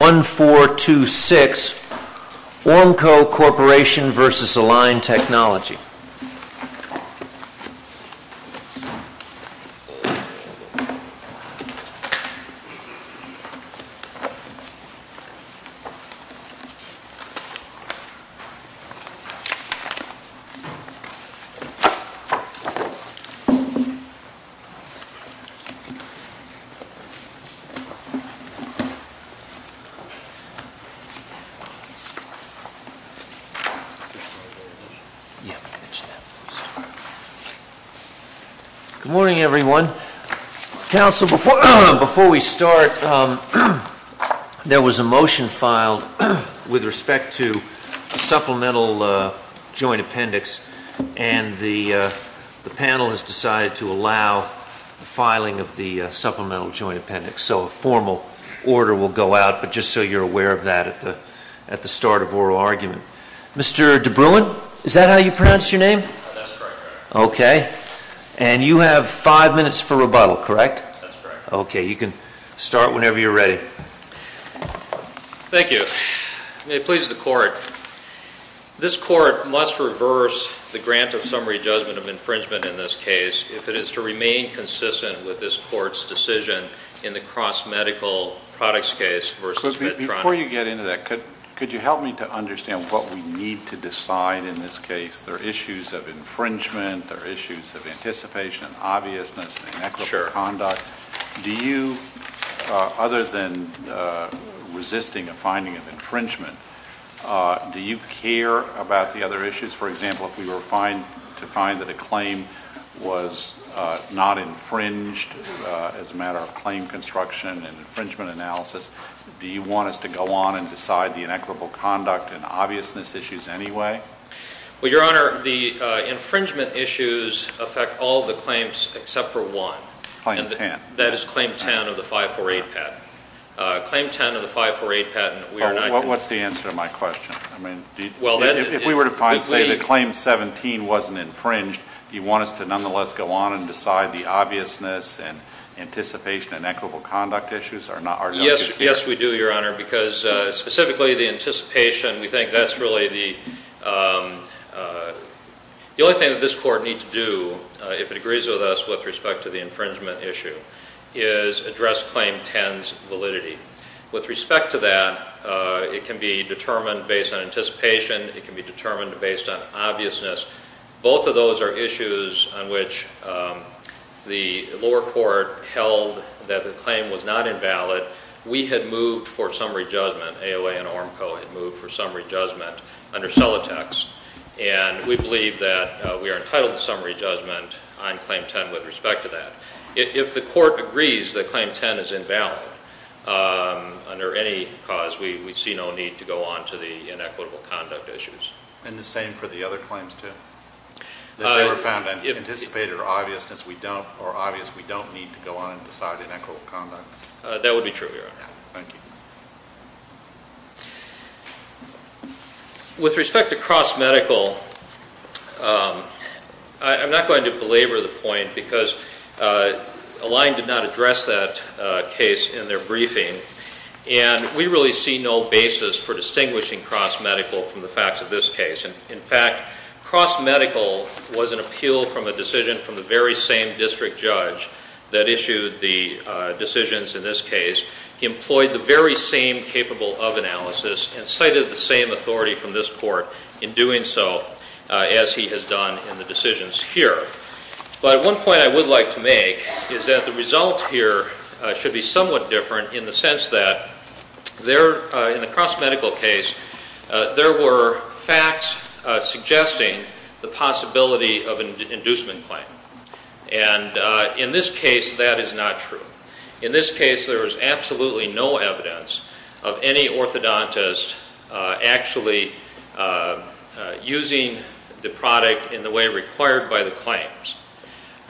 1426 Ormco Corporation v. Align Technology Good morning, everyone. Council, before we start, there was a motion filed with respect to supplemental joint appendix, and the panel has decided to allow the filing of the supplemental joint appendix. So a formal order will go out, but just so you're aware of that at the start of oral argument. Mr. DeBruin, is that how you pronounce your name? That's correct, Your Honor. And you have five minutes for rebuttal, correct? That's correct. Okay, you can start whenever you're ready. Thank you. May it please the Court, this Court must reverse the grant of summary judgment of infringement in this case if it is to remain consistent with this Court's decision in the cross-medical products case v. Mitt Romney? Before you get into that, could you help me to understand what we need to decide in this case? There are issues of infringement, there are issues of anticipation and obviousness and inequitable conduct. Do you, other than resisting a finding of infringement, do you care about the other issues? For example, if we were to find that a claim was not infringed as a matter of claim construction and infringement analysis, do you want us to go on and decide the inequitable conduct and obviousness issues anyway? Well, Your Honor, the infringement issues affect all the claims except for one. Claim 10. That is claim 10 of the 548 patent. Claim 10 of the 548 patent, we are not going to do that. That is the answer to my question. If we were to find, say, that claim 17 was not infringed, do you want us to nonetheless go on and decide the obviousness and anticipation and inequitable conduct issues? Yes, we do, Your Honor, because specifically the anticipation, we think that is really the only thing that this Court needs to do if it agrees with us with respect to the infringement issue, is address claim 10's validity. With respect to that, it can be determined based on anticipation. It can be determined based on obviousness. Both of those are issues on which the lower court held that the claim was not invalid. We had moved for summary judgment, AOA and ORMCO had moved for summary judgment under Celotex, and we believe that we are entitled to summary judgment on claim 10 with respect to that. If the Court agrees that claim 10 is invalid under any cause, we see no need to go on to the inequitable conduct issues. And the same for the other claims, too? If they were found unanticipated or obvious, we don't need to go on and decide inequitable conduct? That would be true, Your Honor. With respect to cross-medical, I'm not going to belabor the point because Align did not address that case in their briefing, and we really see no basis for distinguishing cross-medical from the facts of this case. In fact, cross-medical was an appeal from a decision from the very same district judge that issued the decisions in this case. He employed the very same capable of analysis and cited the same authority from this Court in doing so as he has done in the decisions here. But one point I would like to make is that the result here should be somewhat different in the sense that in the cross-medical case, there were facts suggesting the possibility of an inducement claim. And in this case, that is not true. In this case, there is absolutely no evidence of any orthodontist actually using the product in the way required by the claims.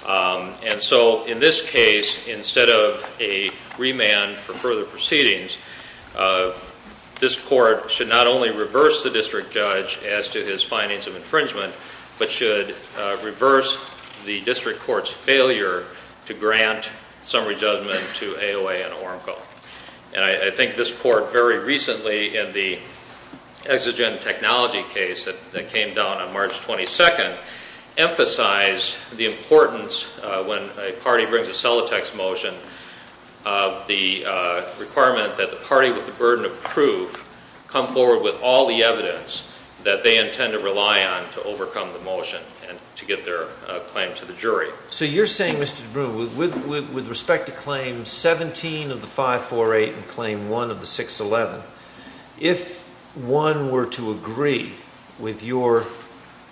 And so in this case, instead of a remand for further proceedings, this Court should not only reverse the district judge as to his findings of infringement, but should reverse the district court's failure to grant summary judgment to AOA and ORMCO. And I think this Court very recently in the exigent technology case that came down on March 22nd, emphasized the importance when a party brings a Solitex motion of the requirement that the party with the burden of proof come forward with all the evidence that they intend to rely on to overcome the motion and to get their claim to the jury. So you're saying, Mr. DeBruin, with respect to Claim 17 of the 548 and Claim 1 of the 611, if one were to agree with your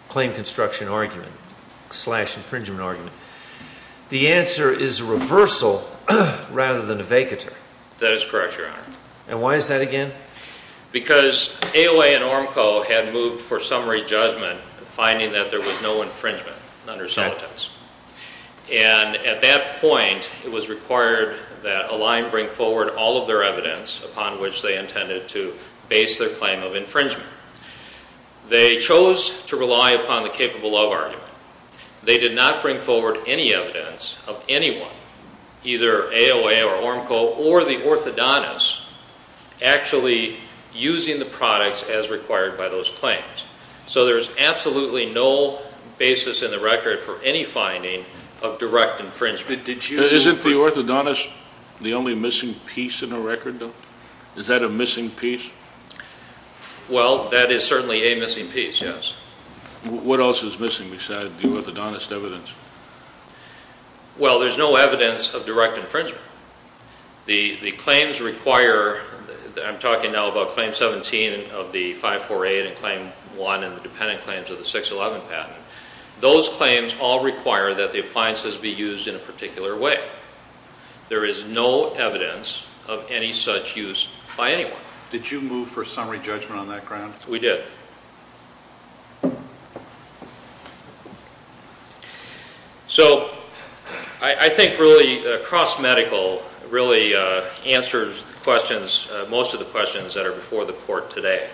claim construction argument slash infringement argument, the answer is a reversal rather than a vacatur? That is correct, Your Honor. And why is that again? Because AOA and ORMCO had moved for summary judgment finding that there was no infringement under Solitex. And at that point, it was required that Align bring forward all of their evidence upon which they intended to base their claim of infringement. They chose to rely upon the capable of argument. They did not bring forward any evidence of anyone, either AOA or ORMCO or the orthodontist actually using the products as required by those claims. So there's absolutely no basis in the record for any finding of direct infringement. Isn't the orthodontist the only missing piece in the record though? Is that a missing piece? Well, that is certainly a missing piece, yes. What else is missing besides the orthodontist evidence? Well, there's no evidence of direct infringement. The claims require, I'm talking now about Claim 17 of the 548 and Claim 1 and the dependent claims of the 611 patent. Those claims all require that the appliances be used in a particular way. There is no evidence of any such use by anyone. Did you move for summary judgment on that ground? We did. So, I think really across medical really answers the questions, most of the questions that are before the court today.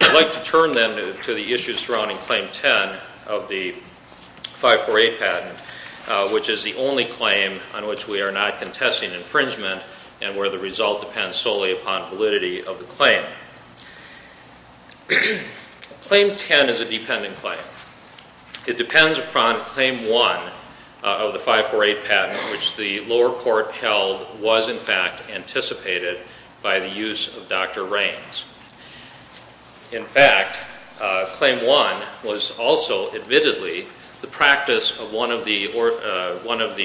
I'd like to turn then to the issues surrounding Claim 10 of the 548 patent, which is the only claim on which we are not contesting infringement and where the result depends solely upon validity of the claim. Claim 10 is a dependent claim. It depends upon Claim 1 of the 548 patent, which the lower court held was in fact anticipated by the use of Dr. Raines. In fact, Claim 1 was also admittedly the practice of one of the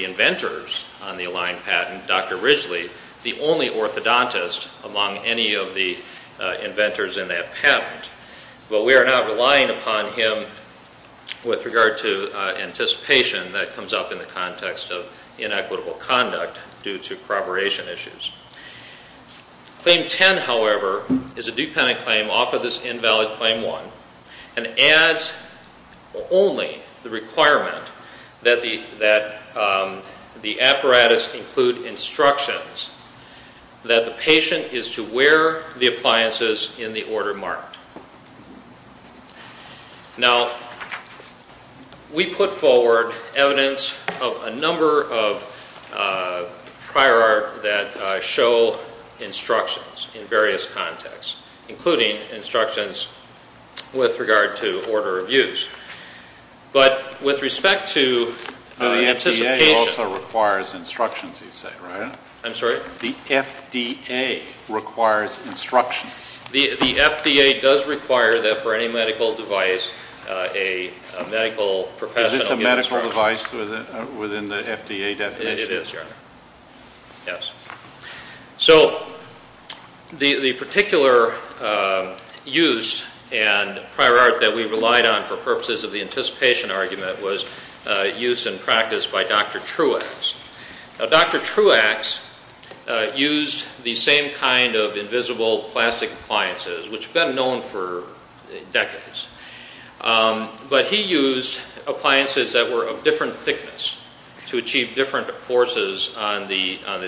inventors on the Align patent, and Dr. Ridgely, the only orthodontist among any of the inventors in that patent. But we are not relying upon him with regard to anticipation that comes up in the context of inequitable conduct due to corroboration issues. Claim 10, however, is a dependent claim off of this invalid Claim 1 and adds only the instructions that the patient is to wear the appliances in the order marked. Now we put forward evidence of a number of prior art that show instructions in various contexts, including instructions with regard to order of use. But with respect to anticipation... The FDA also requires instructions, you say, right? I'm sorry? The FDA requires instructions. The FDA does require that for any medical device a medical professional... Is this a medical device within the FDA definition? It is, Your Honor. Yes. So the particular use and prior art that we relied on for purposes of the anticipation argument was use and practice by Dr. Truax. Now Dr. Truax used the same kind of invisible plastic appliances, which have been known for decades. But he used appliances that were of different thickness to achieve different forces on the I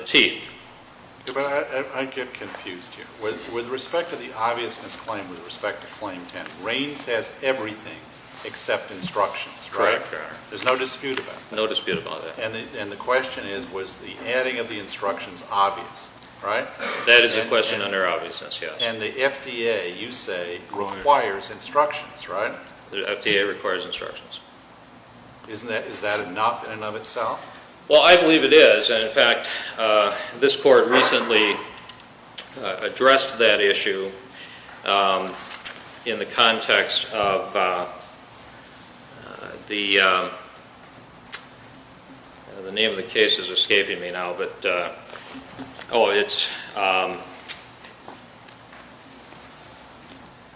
get confused here. With respect to the obviousness claim, with respect to Claim 10, Rain says everything except instructions, right? Correct, Your Honor. There's no dispute about that? No dispute about that. And the question is, was the adding of the instructions obvious, right? That is the question under obviousness, yes. And the FDA, you say, requires instructions, right? The FDA requires instructions. Isn't that, is that enough in and of itself? Well, I believe it is. And, in fact, this court recently addressed that issue in the context of the... The name of the case is escaping me now, but... Oh, it's...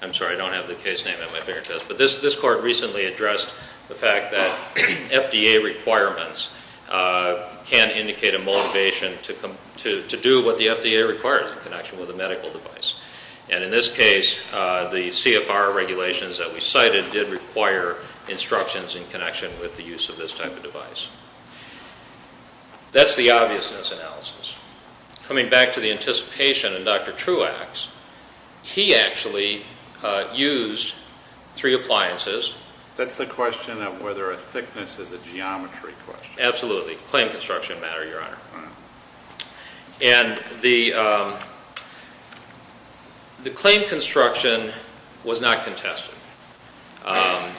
I'm sorry, I don't have the case name on my fingertips. But this court recently addressed the fact that FDA requirements can indicate a motivation to do what the FDA requires in connection with a medical device. And in this case, the CFR regulations that we cited did require instructions in connection with the use of this type of device. That's the obviousness analysis. Coming back to the anticipation in Dr. Truax, he actually used three appliances. That's the question of whether a thickness is a geometry question. Absolutely. Claim construction matter, Your Honor. And the claim construction was not contested.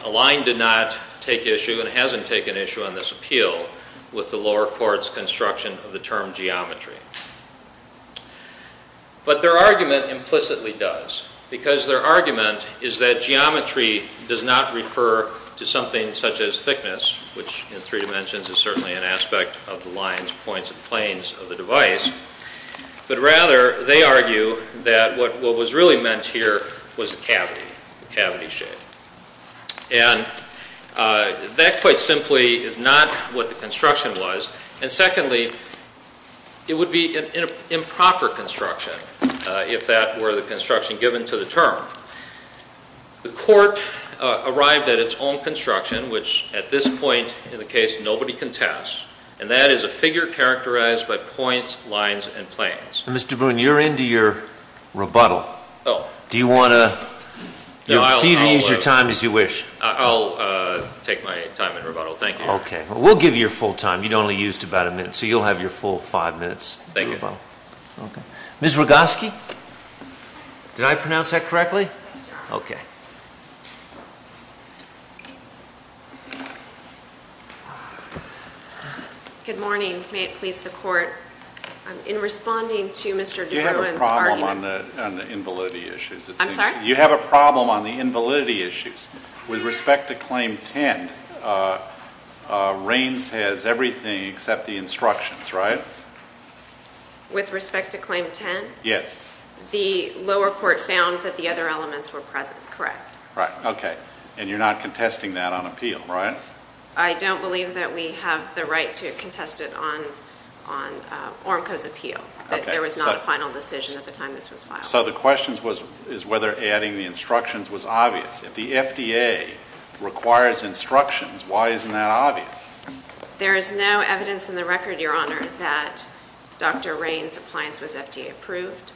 Align did not take issue and hasn't taken issue on this appeal with the lower court's construction of the term geometry. But their argument implicitly does. Because their argument is that geometry does not refer to something such as thickness, which in three dimensions is certainly an aspect of the lines, points, and planes of the device. But rather, they argue that what was really meant here was cavity, cavity shape. And that quite simply is not what the construction was. And secondly, it would be an improper construction if that were the construction given to the term. The court arrived at its own construction, which at this point in the case, nobody can test. And that is a figure characterized by points, lines, and planes. Mr. Boone, you're into your rebuttal. Do you want to use your time as you wish? I'll take my time in rebuttal. Thank you. Okay. We'll give you your full time. You'd only used about a minute. So you'll have your full five minutes. Thank you. Ms. Rogoski, did I pronounce that correctly? Yes, Your Honor. Okay. Good morning. May it please the court. In responding to Mr. de Bruin's arguments... You have a problem on the invalidity issues. I'm sorry? You have a problem on the invalidity issues. With respect to Claim 10, Reins has everything except the instructions, right? With respect to Claim 10? Yes. The lower court found that the other elements were present, correct. Right. Okay. And you're not contesting that on appeal, right? I don't believe that we have the right to contest it on ORMCO's appeal. There was not a final decision at the time this was filed. So the question is whether adding the instructions was obvious. If the FDA requires instructions, why isn't that obvious? There is no evidence in the record, Your Honor, that Dr. Reins' appliance was FDA approved.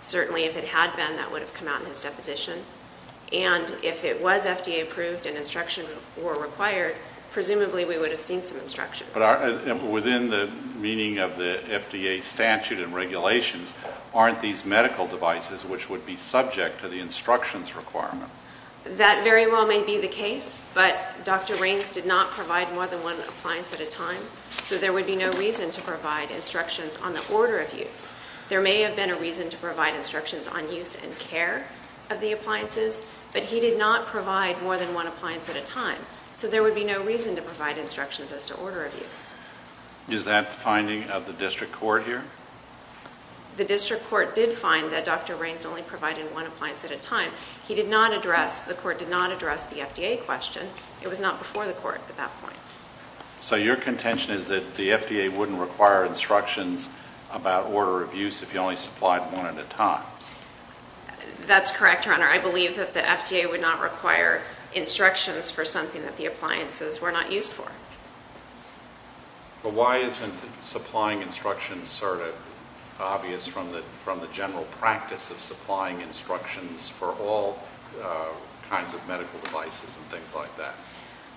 Certainly if it had been, that would have come out in his deposition. And if it was FDA approved and instruction were required, presumably we would have seen some instructions. Within the meaning of the FDA statute and regulations, aren't these medical devices which would be subject to the instructions requirement? That very well may be the case, but Dr. Reins did not provide more than one appliance at a time, so there would be no reason to provide instructions on the order of use. There may have been a reason to provide instructions on use and care of the appliances, but he did not provide more than one appliance at a time, so there would be no reason to provide instructions as to order of use. Is that the finding of the district court here? The district court did find that Dr. Reins only provided one appliance at a time. He did not address, the court did not address the FDA question. It was not before the court at that point. So your contention is that the FDA wouldn't require instructions about order of use if you only supplied one at a time? That's correct, Your Honor. I believe that the FDA would not require instructions for something that the appliances were not used for. But why isn't supplying instructions sort of obvious from the general practice of supplying instructions for all kinds of medical devices and things like that?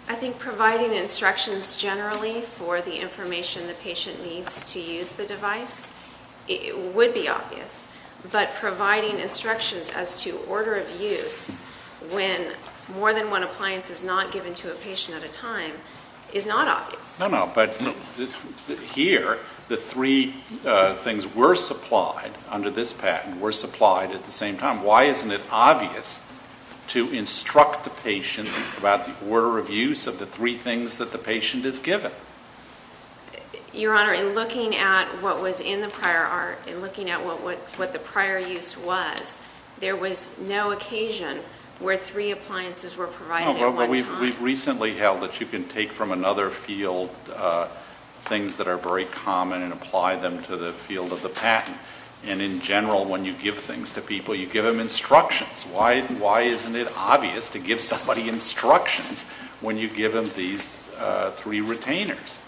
I think providing instructions generally for the information the patient needs to use the device would be obvious, but providing instructions as to order of use when more than one appliance is not given to a patient at a time is not obvious. No, no, but here the three things were supplied under this patent, were supplied at the same time. Why isn't it obvious to instruct the patient about the order of use of the three things that the patient is given? Your Honor, in looking at what was in the prior art, in looking at what the prior use was, there was no occasion where three appliances were provided at one time. No, but we've recently held that you can take from another field things that are very common and apply them to the field of the patent. And in general, when you give things to people, you give them instructions. Why isn't it obvious to give somebody instructions when you give them these three retainers?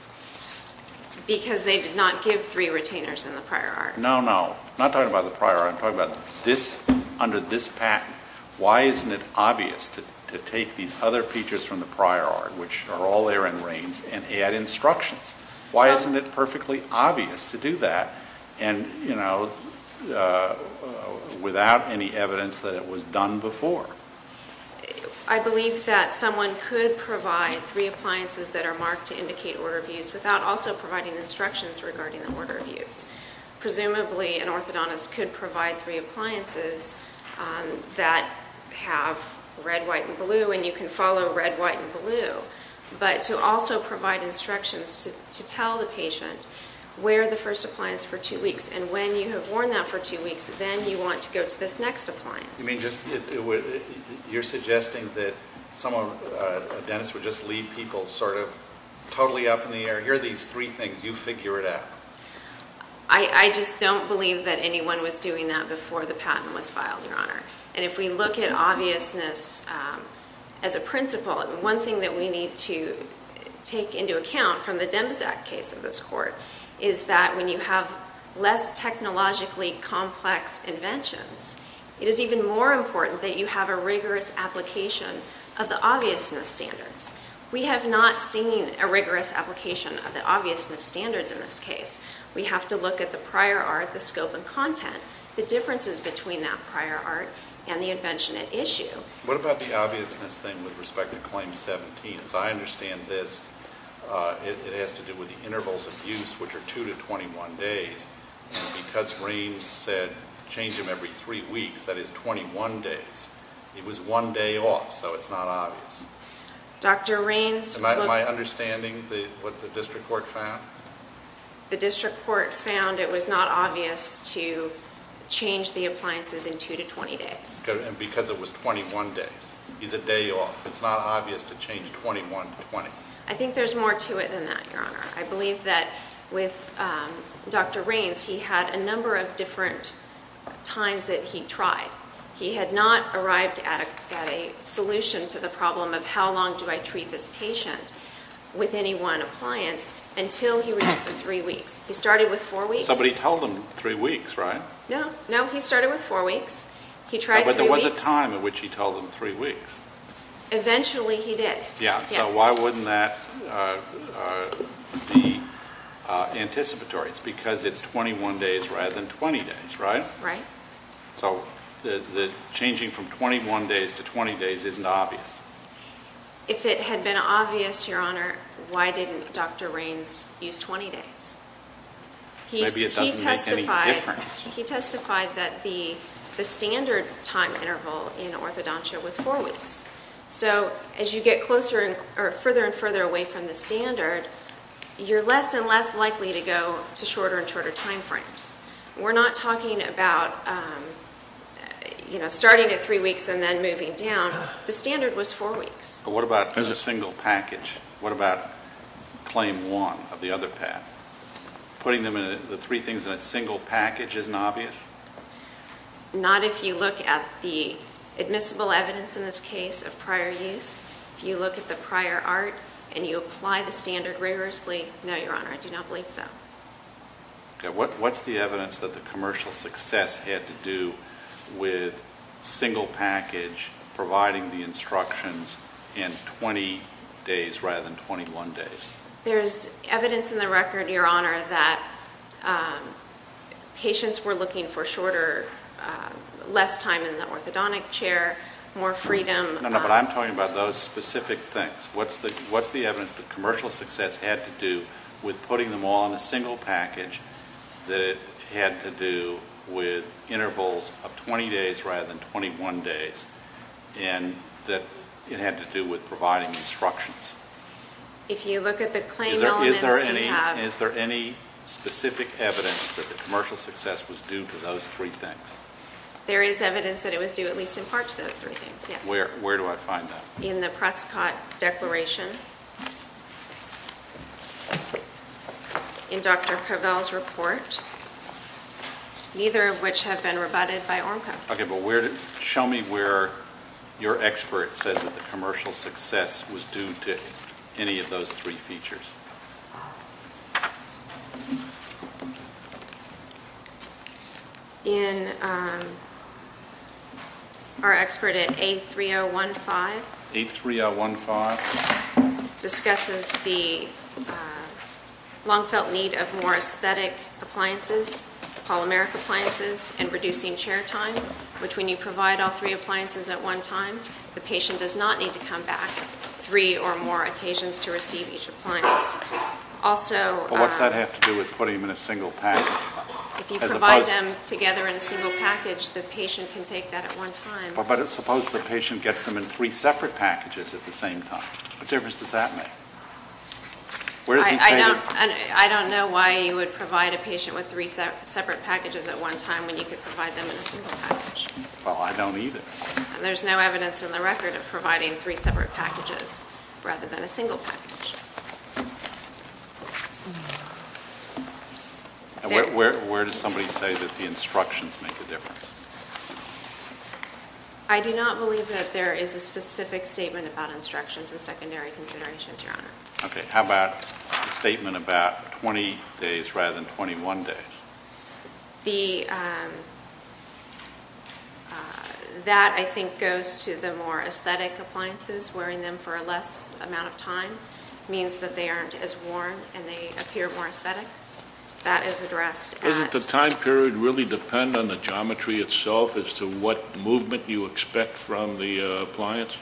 Because they did not give three retainers in the prior art. No, no, I'm not talking about the prior art. I'm talking about this, under this patent. Why isn't it obvious to take these other features from the prior art, which are all there in reigns, and add instructions? Why isn't it perfectly obvious to do that? And, you know, without any evidence that it was done before. I believe that someone could provide three appliances that are marked to indicate order of use without also providing instructions regarding the order of use. Presumably, an orthodontist could provide three appliances that have red, white, and blue, and you can follow red, white, and blue, but to also provide instructions to tell the patient, wear the first appliance for two weeks. And when you have worn that for two weeks, then you want to go to this next appliance. You mean just, you're suggesting that someone, a dentist, would just leave people sort of totally up in the air. Here are these three things. You figure it out. I just don't believe that anyone was doing that before the patent was filed, Your Honor. And if we look at obviousness as a principle, one thing that we need to take into account from the Demzak case of this court is that when you have less technologically complex inventions, it is even more important that you have a rigorous application of the obviousness standards. We have not seen a rigorous application of the obviousness standards in this case. We have to look at the prior art, the scope and content, the differences between that prior art and the invention at issue. What about the obviousness thing with respect to Claim 17? As I understand this, it has to do with the intervals of use, which are 2 to 21 days. Because Raines said change them every three weeks, that is 21 days. It was one day off, so it's not obvious. Dr. Raines. Am I understanding what the district court found? The district court found it was not obvious to change the appliances in 2 to 20 days. And because it was 21 days. It's a day off. It's not obvious to change 21 to 20. I think there's more to it than that, Your Honor. I believe that with Dr. Raines, he had a number of different times that he tried. He had not arrived at a solution to the problem of how long do I treat this patient with any one appliance until he reached the three weeks. He started with four weeks. But he told them three weeks, right? No, he started with four weeks. But there was a time at which he told them three weeks. Eventually he did. So why wouldn't that be anticipatory? It's because it's 21 days rather than 20 days, right? Right. So the changing from 21 days to 20 days isn't obvious. If it had been obvious, Your Honor, why didn't Dr. Raines use 20 days? Maybe it doesn't make any difference. He testified that the standard time interval in orthodontia was four weeks. So as you get further and further away from the standard, you're less and less likely to go to shorter and shorter time frames. We're not talking about starting at three weeks and then moving down. The standard was four weeks. But what about the single package? What about claim one of the other path? Putting the three things in a single package isn't obvious? Not if you look at the admissible evidence in this case of prior use. If you look at the prior art and you apply the standard rigorously. No, Your Honor, I do not believe so. What's the evidence that the commercial success had to do with single package providing the instructions in 20 days rather than 21 days? There's evidence in the record, Your Honor, that patients were looking for shorter, less time in the orthodontic chair, more freedom. No, no, but I'm talking about those specific things. What's the evidence that commercial success had to do with putting them all in a single package that it had to do with intervals of 20 days rather than 21 days and that it had to do with providing instructions? If you look at the claim elements we have. Is there any specific evidence that the commercial success was due to those three things? There is evidence that it was due at least in part to those three things, yes. Where do I find that? In the Prescott Declaration, in Dr. Covell's report, neither of which have been rebutted by ORMCA. Okay, but show me where your expert says that the commercial success was due to any of those three features. In our expert at 83015, discusses the long-felt need of more aesthetic appliances, polymeric appliances, and reducing chair time, which when you provide all three appliances at one time, the patient does not need to come back three or more occasions to receive each appliance. What does that have to do with putting them in a single package? If you provide them together in a single package, the patient can take that at one time. But suppose the patient gets them in three separate packages at the same time. What difference does that make? I don't know why you would provide a patient with three separate packages at one time when you could provide them in a single package. Well, I don't either. There's no evidence in the record of providing three separate packages rather than a single package. Where does somebody say that the instructions make a difference? I do not believe that there is a specific statement about instructions and secondary considerations, Your Honor. Okay, how about a statement about 20 days rather than 21 days? That, I think, goes to the more aesthetic appliances. Wearing them for a less amount of time means that they aren't as worn and they appear more aesthetic. That is addressed at... Doesn't the time period really depend on the geometry itself as to what movement you expect from the appliance?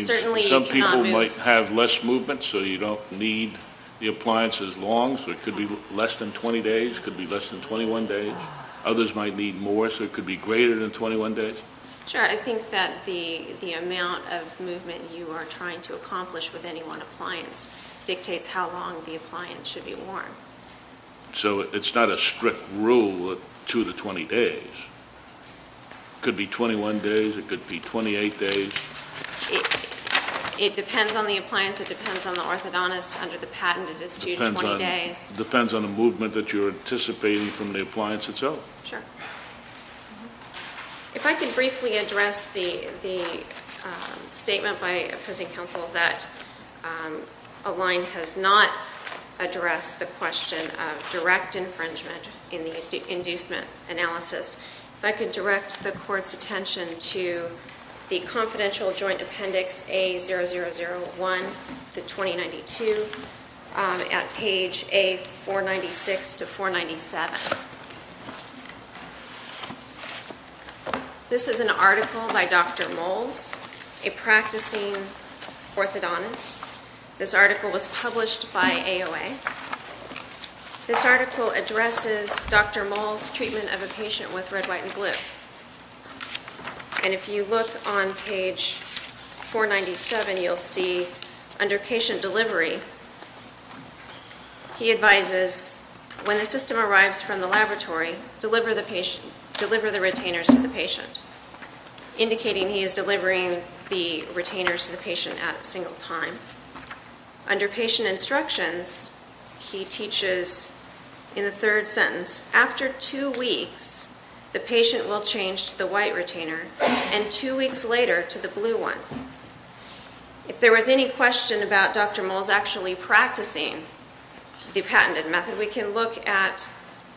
Certainly you cannot move... Some people might have less movement so you don't need the appliance as long so it could be less than 20 days, it could be less than 21 days. Others might need more so it could be greater than 21 days. Sure. I think that the amount of movement you are trying to accomplish with any one appliance dictates how long the appliance should be worn. So it's not a strict rule of 2 to 20 days. It could be 21 days, it could be 28 days. It depends on the appliance, it depends on the orthodontist. Under the patent it is 2 to 20 days. It depends on the movement that you're anticipating from the appliance itself. Sure. If I could briefly address the statement by opposing counsel that a line has not addressed the question of direct infringement in the inducement analysis. If I could direct the court's attention to the confidential joint appendix A0001 to 2092 at page A496 to 497. This is an article by Dr. Moles, a practicing orthodontist. This article was published by AOA. This article addresses Dr. Moles' treatment of a patient with red, white, and blue. And if you look on page 497, you'll see under patient delivery, he advises when the system arrives from the laboratory, deliver the retainers to the patient, indicating he is delivering the retainers to the patient at a single time. Under patient instructions, he teaches in the third sentence, after two weeks the patient will change to the white retainer and two weeks later to the blue one. If there was any question about Dr. Moles actually practicing the patented method, we can look at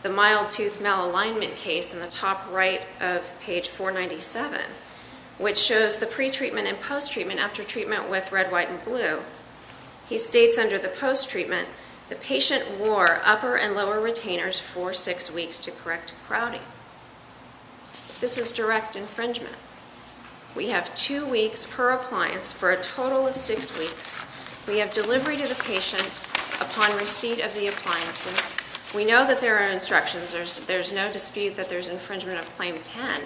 the mild tooth malalignment case in the top right of page 497, which shows the pre-treatment and post-treatment after treatment with red, white, and blue. He states under the post-treatment, the patient wore upper and lower retainers for six weeks to correct crowding. This is direct infringement. We have two weeks per appliance for a total of six weeks. We have delivery to the patient upon receipt of the appliances. We know that there are instructions. There's no dispute that there's infringement of Claim 10.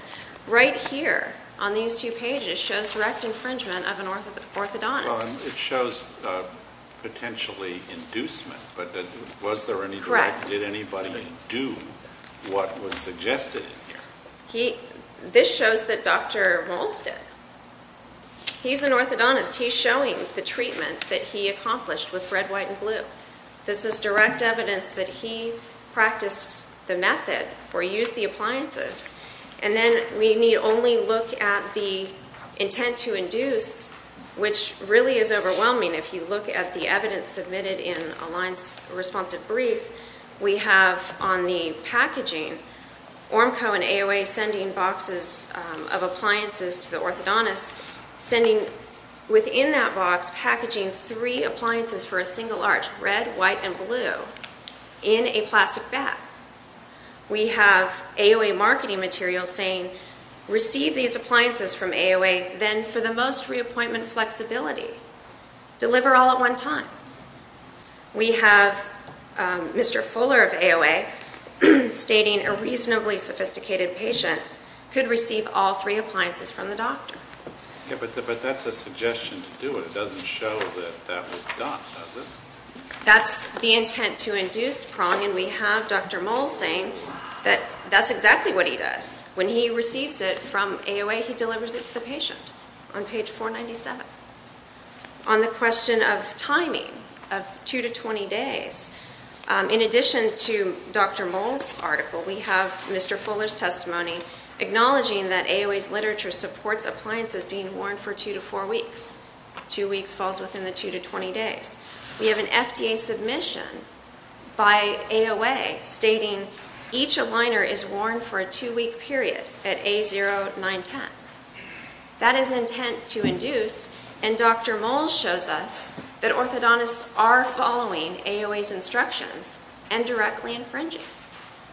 Right here on these two pages shows direct infringement of an orthodontist. It shows potentially inducement, but was there any direct? Correct. Did anybody do what was suggested in here? This shows that Dr. Moles did. He's an orthodontist. He's showing the treatment that he accomplished with red, white, and blue. This is direct evidence that he practiced the method or used the appliances. Then we need only look at the intent to induce, which really is overwhelming. If you look at the evidence submitted in Align's responsive brief, we have on the packaging, ORMCO and AOA sending boxes of appliances to the orthodontist, sending within that box packaging three appliances for a single arch, red, white, and blue, in a plastic bag. We have AOA marketing material saying, receive these appliances from AOA then for the most reappointment flexibility. Deliver all at one time. We have Mr. Fuller of AOA stating a reasonably sophisticated patient could receive all three appliances from the doctor. But that's a suggestion to do it. It doesn't show that that was done, does it? That's the intent to induce prong, and we have Dr. Moll saying that that's exactly what he does. When he receives it from AOA, he delivers it to the patient on page 497. On the question of timing of 2 to 20 days, in addition to Dr. Moll's article, we have Mr. Fuller's testimony acknowledging that AOA's literature supports appliances being worn for 2 to 4 weeks. 2 weeks falls within the 2 to 20 days. We have an FDA submission by AOA stating, each aligner is worn for a 2-week period at A0910. That is intent to induce, and Dr. Moll shows us that orthodontists are following AOA's instructions and directly infringing.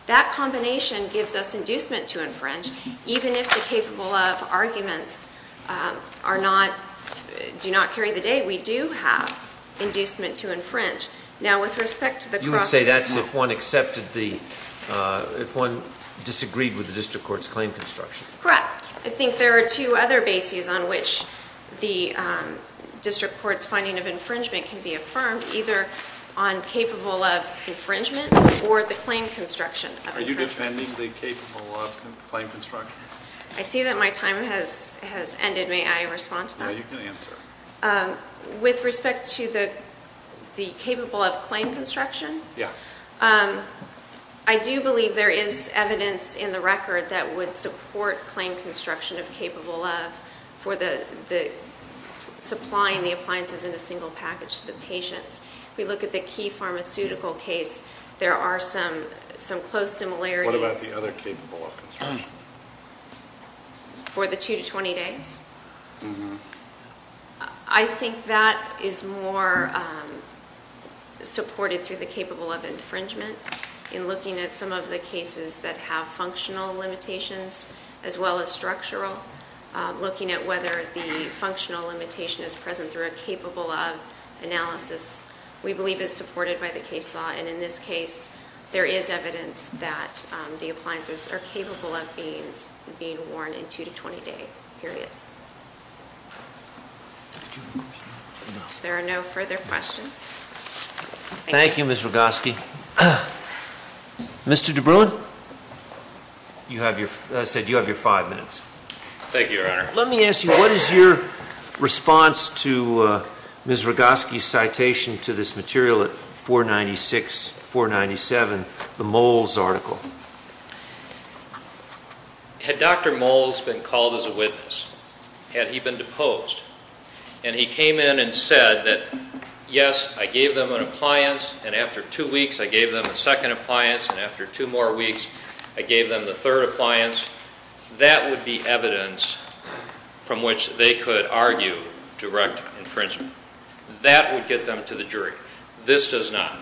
That combination gives us inducement to infringe, even if the capable of arguments do not carry the day, we do have inducement to infringe. You would say that's if one disagreed with the district court's claim construction. Correct. I think there are two other bases on which the district court's finding of infringement can be affirmed, either on capable of infringement or the claim construction of infringement. Are you defending the capable of claim construction? I see that my time has ended. May I respond to that? Yes, you can answer. With respect to the capable of claim construction, I do believe there is evidence in the record that would support claim construction of capable of for supplying the appliances in a single package to the patients. If we look at the key pharmaceutical case, there are some close similarities. What about the other capable of construction? For the 2-20 days? Mm-hmm. I think that is more supported through the capable of infringement in looking at some of the cases that have functional limitations as well as structural, looking at whether the functional limitation is present through a capable of analysis, we believe is supported by the case law. And in this case, there is evidence that the appliances are capable of being worn in 2-20 day periods. There are no further questions. Thank you, Ms. Rogoski. Mr. DeBruin? I said you have your five minutes. Thank you, Your Honor. Let me ask you, what is your response to Ms. Rogoski's citation to this material at 496, 497, the Moles article? Had Dr. Moles been called as a witness? Had he been deposed? And he came in and said that, yes, I gave them an appliance, and after two weeks I gave them a second appliance, and after two more weeks I gave them the third appliance. That would be evidence from which they could argue direct infringement. That would get them to the jury. This does not.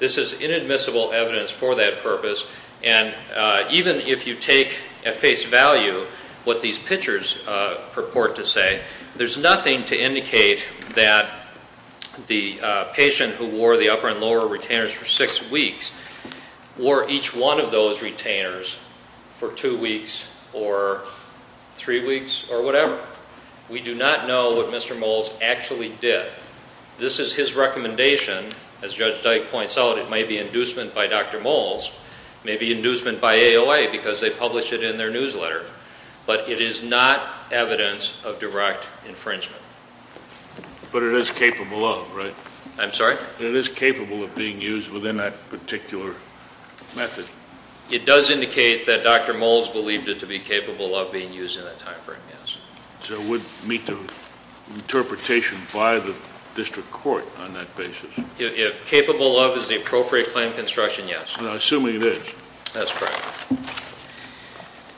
This is inadmissible evidence for that purpose. And even if you take at face value what these pictures purport to say, there's nothing to indicate that the patient who wore the upper and lower retainers for six weeks wore each one of those retainers for two weeks or three weeks or whatever. We do not know what Mr. Moles actually did. This is his recommendation. As Judge Dyke points out, it may be inducement by Dr. Moles. It may be inducement by AOA because they published it in their newsletter. But it is not evidence of direct infringement. But it is capable of, right? I'm sorry? It is capable of being used within that particular method. It does indicate that Dr. Moles believed it to be capable of being used in that time frame, yes. So it would meet the interpretation by the district court on that basis. If capable of is the appropriate claim construction, yes. I'm assuming it is. That's correct.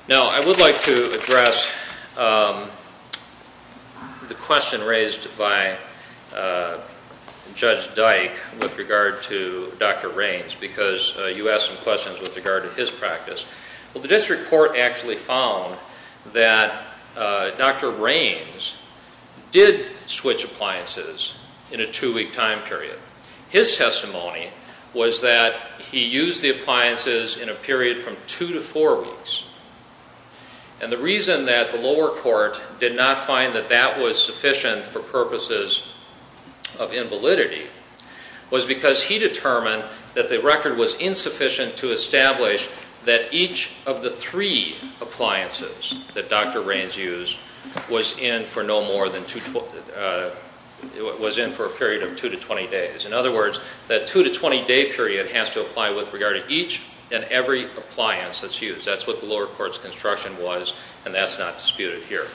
Now, I would like to address the question raised by Judge Dyke with regard to Dr. Raines because you asked some questions with regard to his practice. Well, the district court actually found that Dr. Raines did switch appliances in a two-week time period. His testimony was that he used the appliances in a period from two to four weeks. And the reason that the lower court did not find that that was sufficient for purposes of invalidity was because he determined that the record was insufficient to establish that each of the three appliances that Dr. Raines used was in for no more than two, was in for a period of two to 20 days. In other words, that two to 20-day period has to apply with regard to each and every appliance that's used. That's what the lower court's construction was, and that's not disputed here.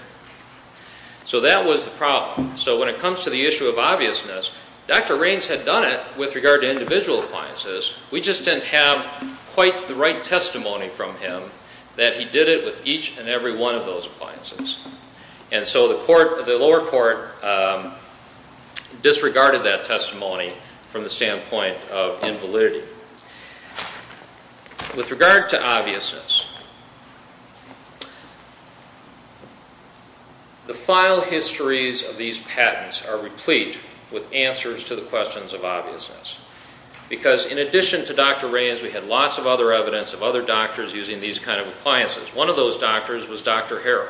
So that was the problem. So when it comes to the issue of obviousness, Dr. Raines had done it with regard to individual appliances. We just didn't have quite the right testimony from him that he did it with each and every one of those appliances. And so the lower court disregarded that testimony from the standpoint of invalidity. With regard to obviousness, the file histories of these patents are replete with answers to the questions of obviousness. Because in addition to Dr. Raines, we had lots of other evidence of other doctors using these kind of appliances. One of those doctors was Dr. Harrell.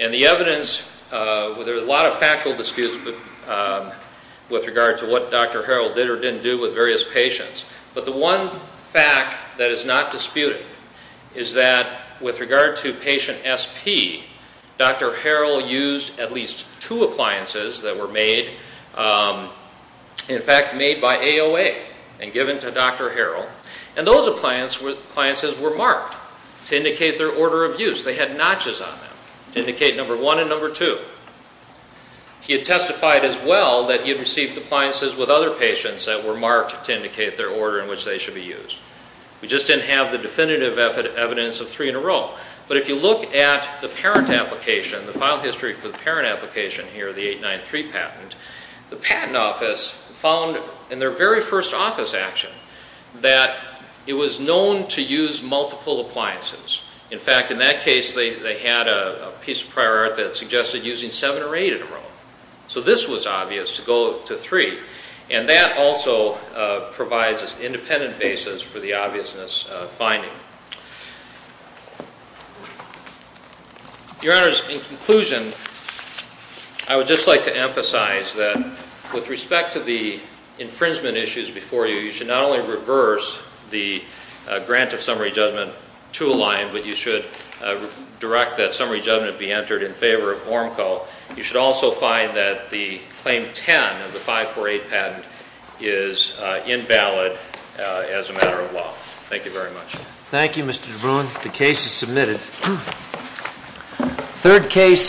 And the evidence, there were a lot of factual disputes with regard to what Dr. Harrell did or didn't do with various patients. But the one fact that is not disputed is that with regard to patient SP, Dr. Harrell used at least two appliances that were made, in fact made by AOA and given to Dr. Harrell. And those appliances were marked to indicate their order of use. They had notches on them to indicate number one and number two. He had testified as well that he had received appliances with other patients that were marked to indicate their order in which they should be used. We just didn't have the definitive evidence of three in a row. But if you look at the parent application, the file history for the parent application here, the 893 patent, the patent office found in their very first office action that it was known to use multiple appliances. In fact, in that case, they had a piece of prior art that suggested using seven or eight in a row. So this was obvious to go to three. And that also provides an independent basis for the obviousness finding. Your Honors, in conclusion, I would just like to emphasize that with respect to the infringement issues before you, you should not only reverse the grant of summary judgment to a line, but you should direct that summary judgment be entered in favor of ORMCO. You should also find that the claim 10 of the 548 patent is invalid as a matter of law. Thank you very much. Thank you, Mr. DeBruin. The case is submitted. Third case.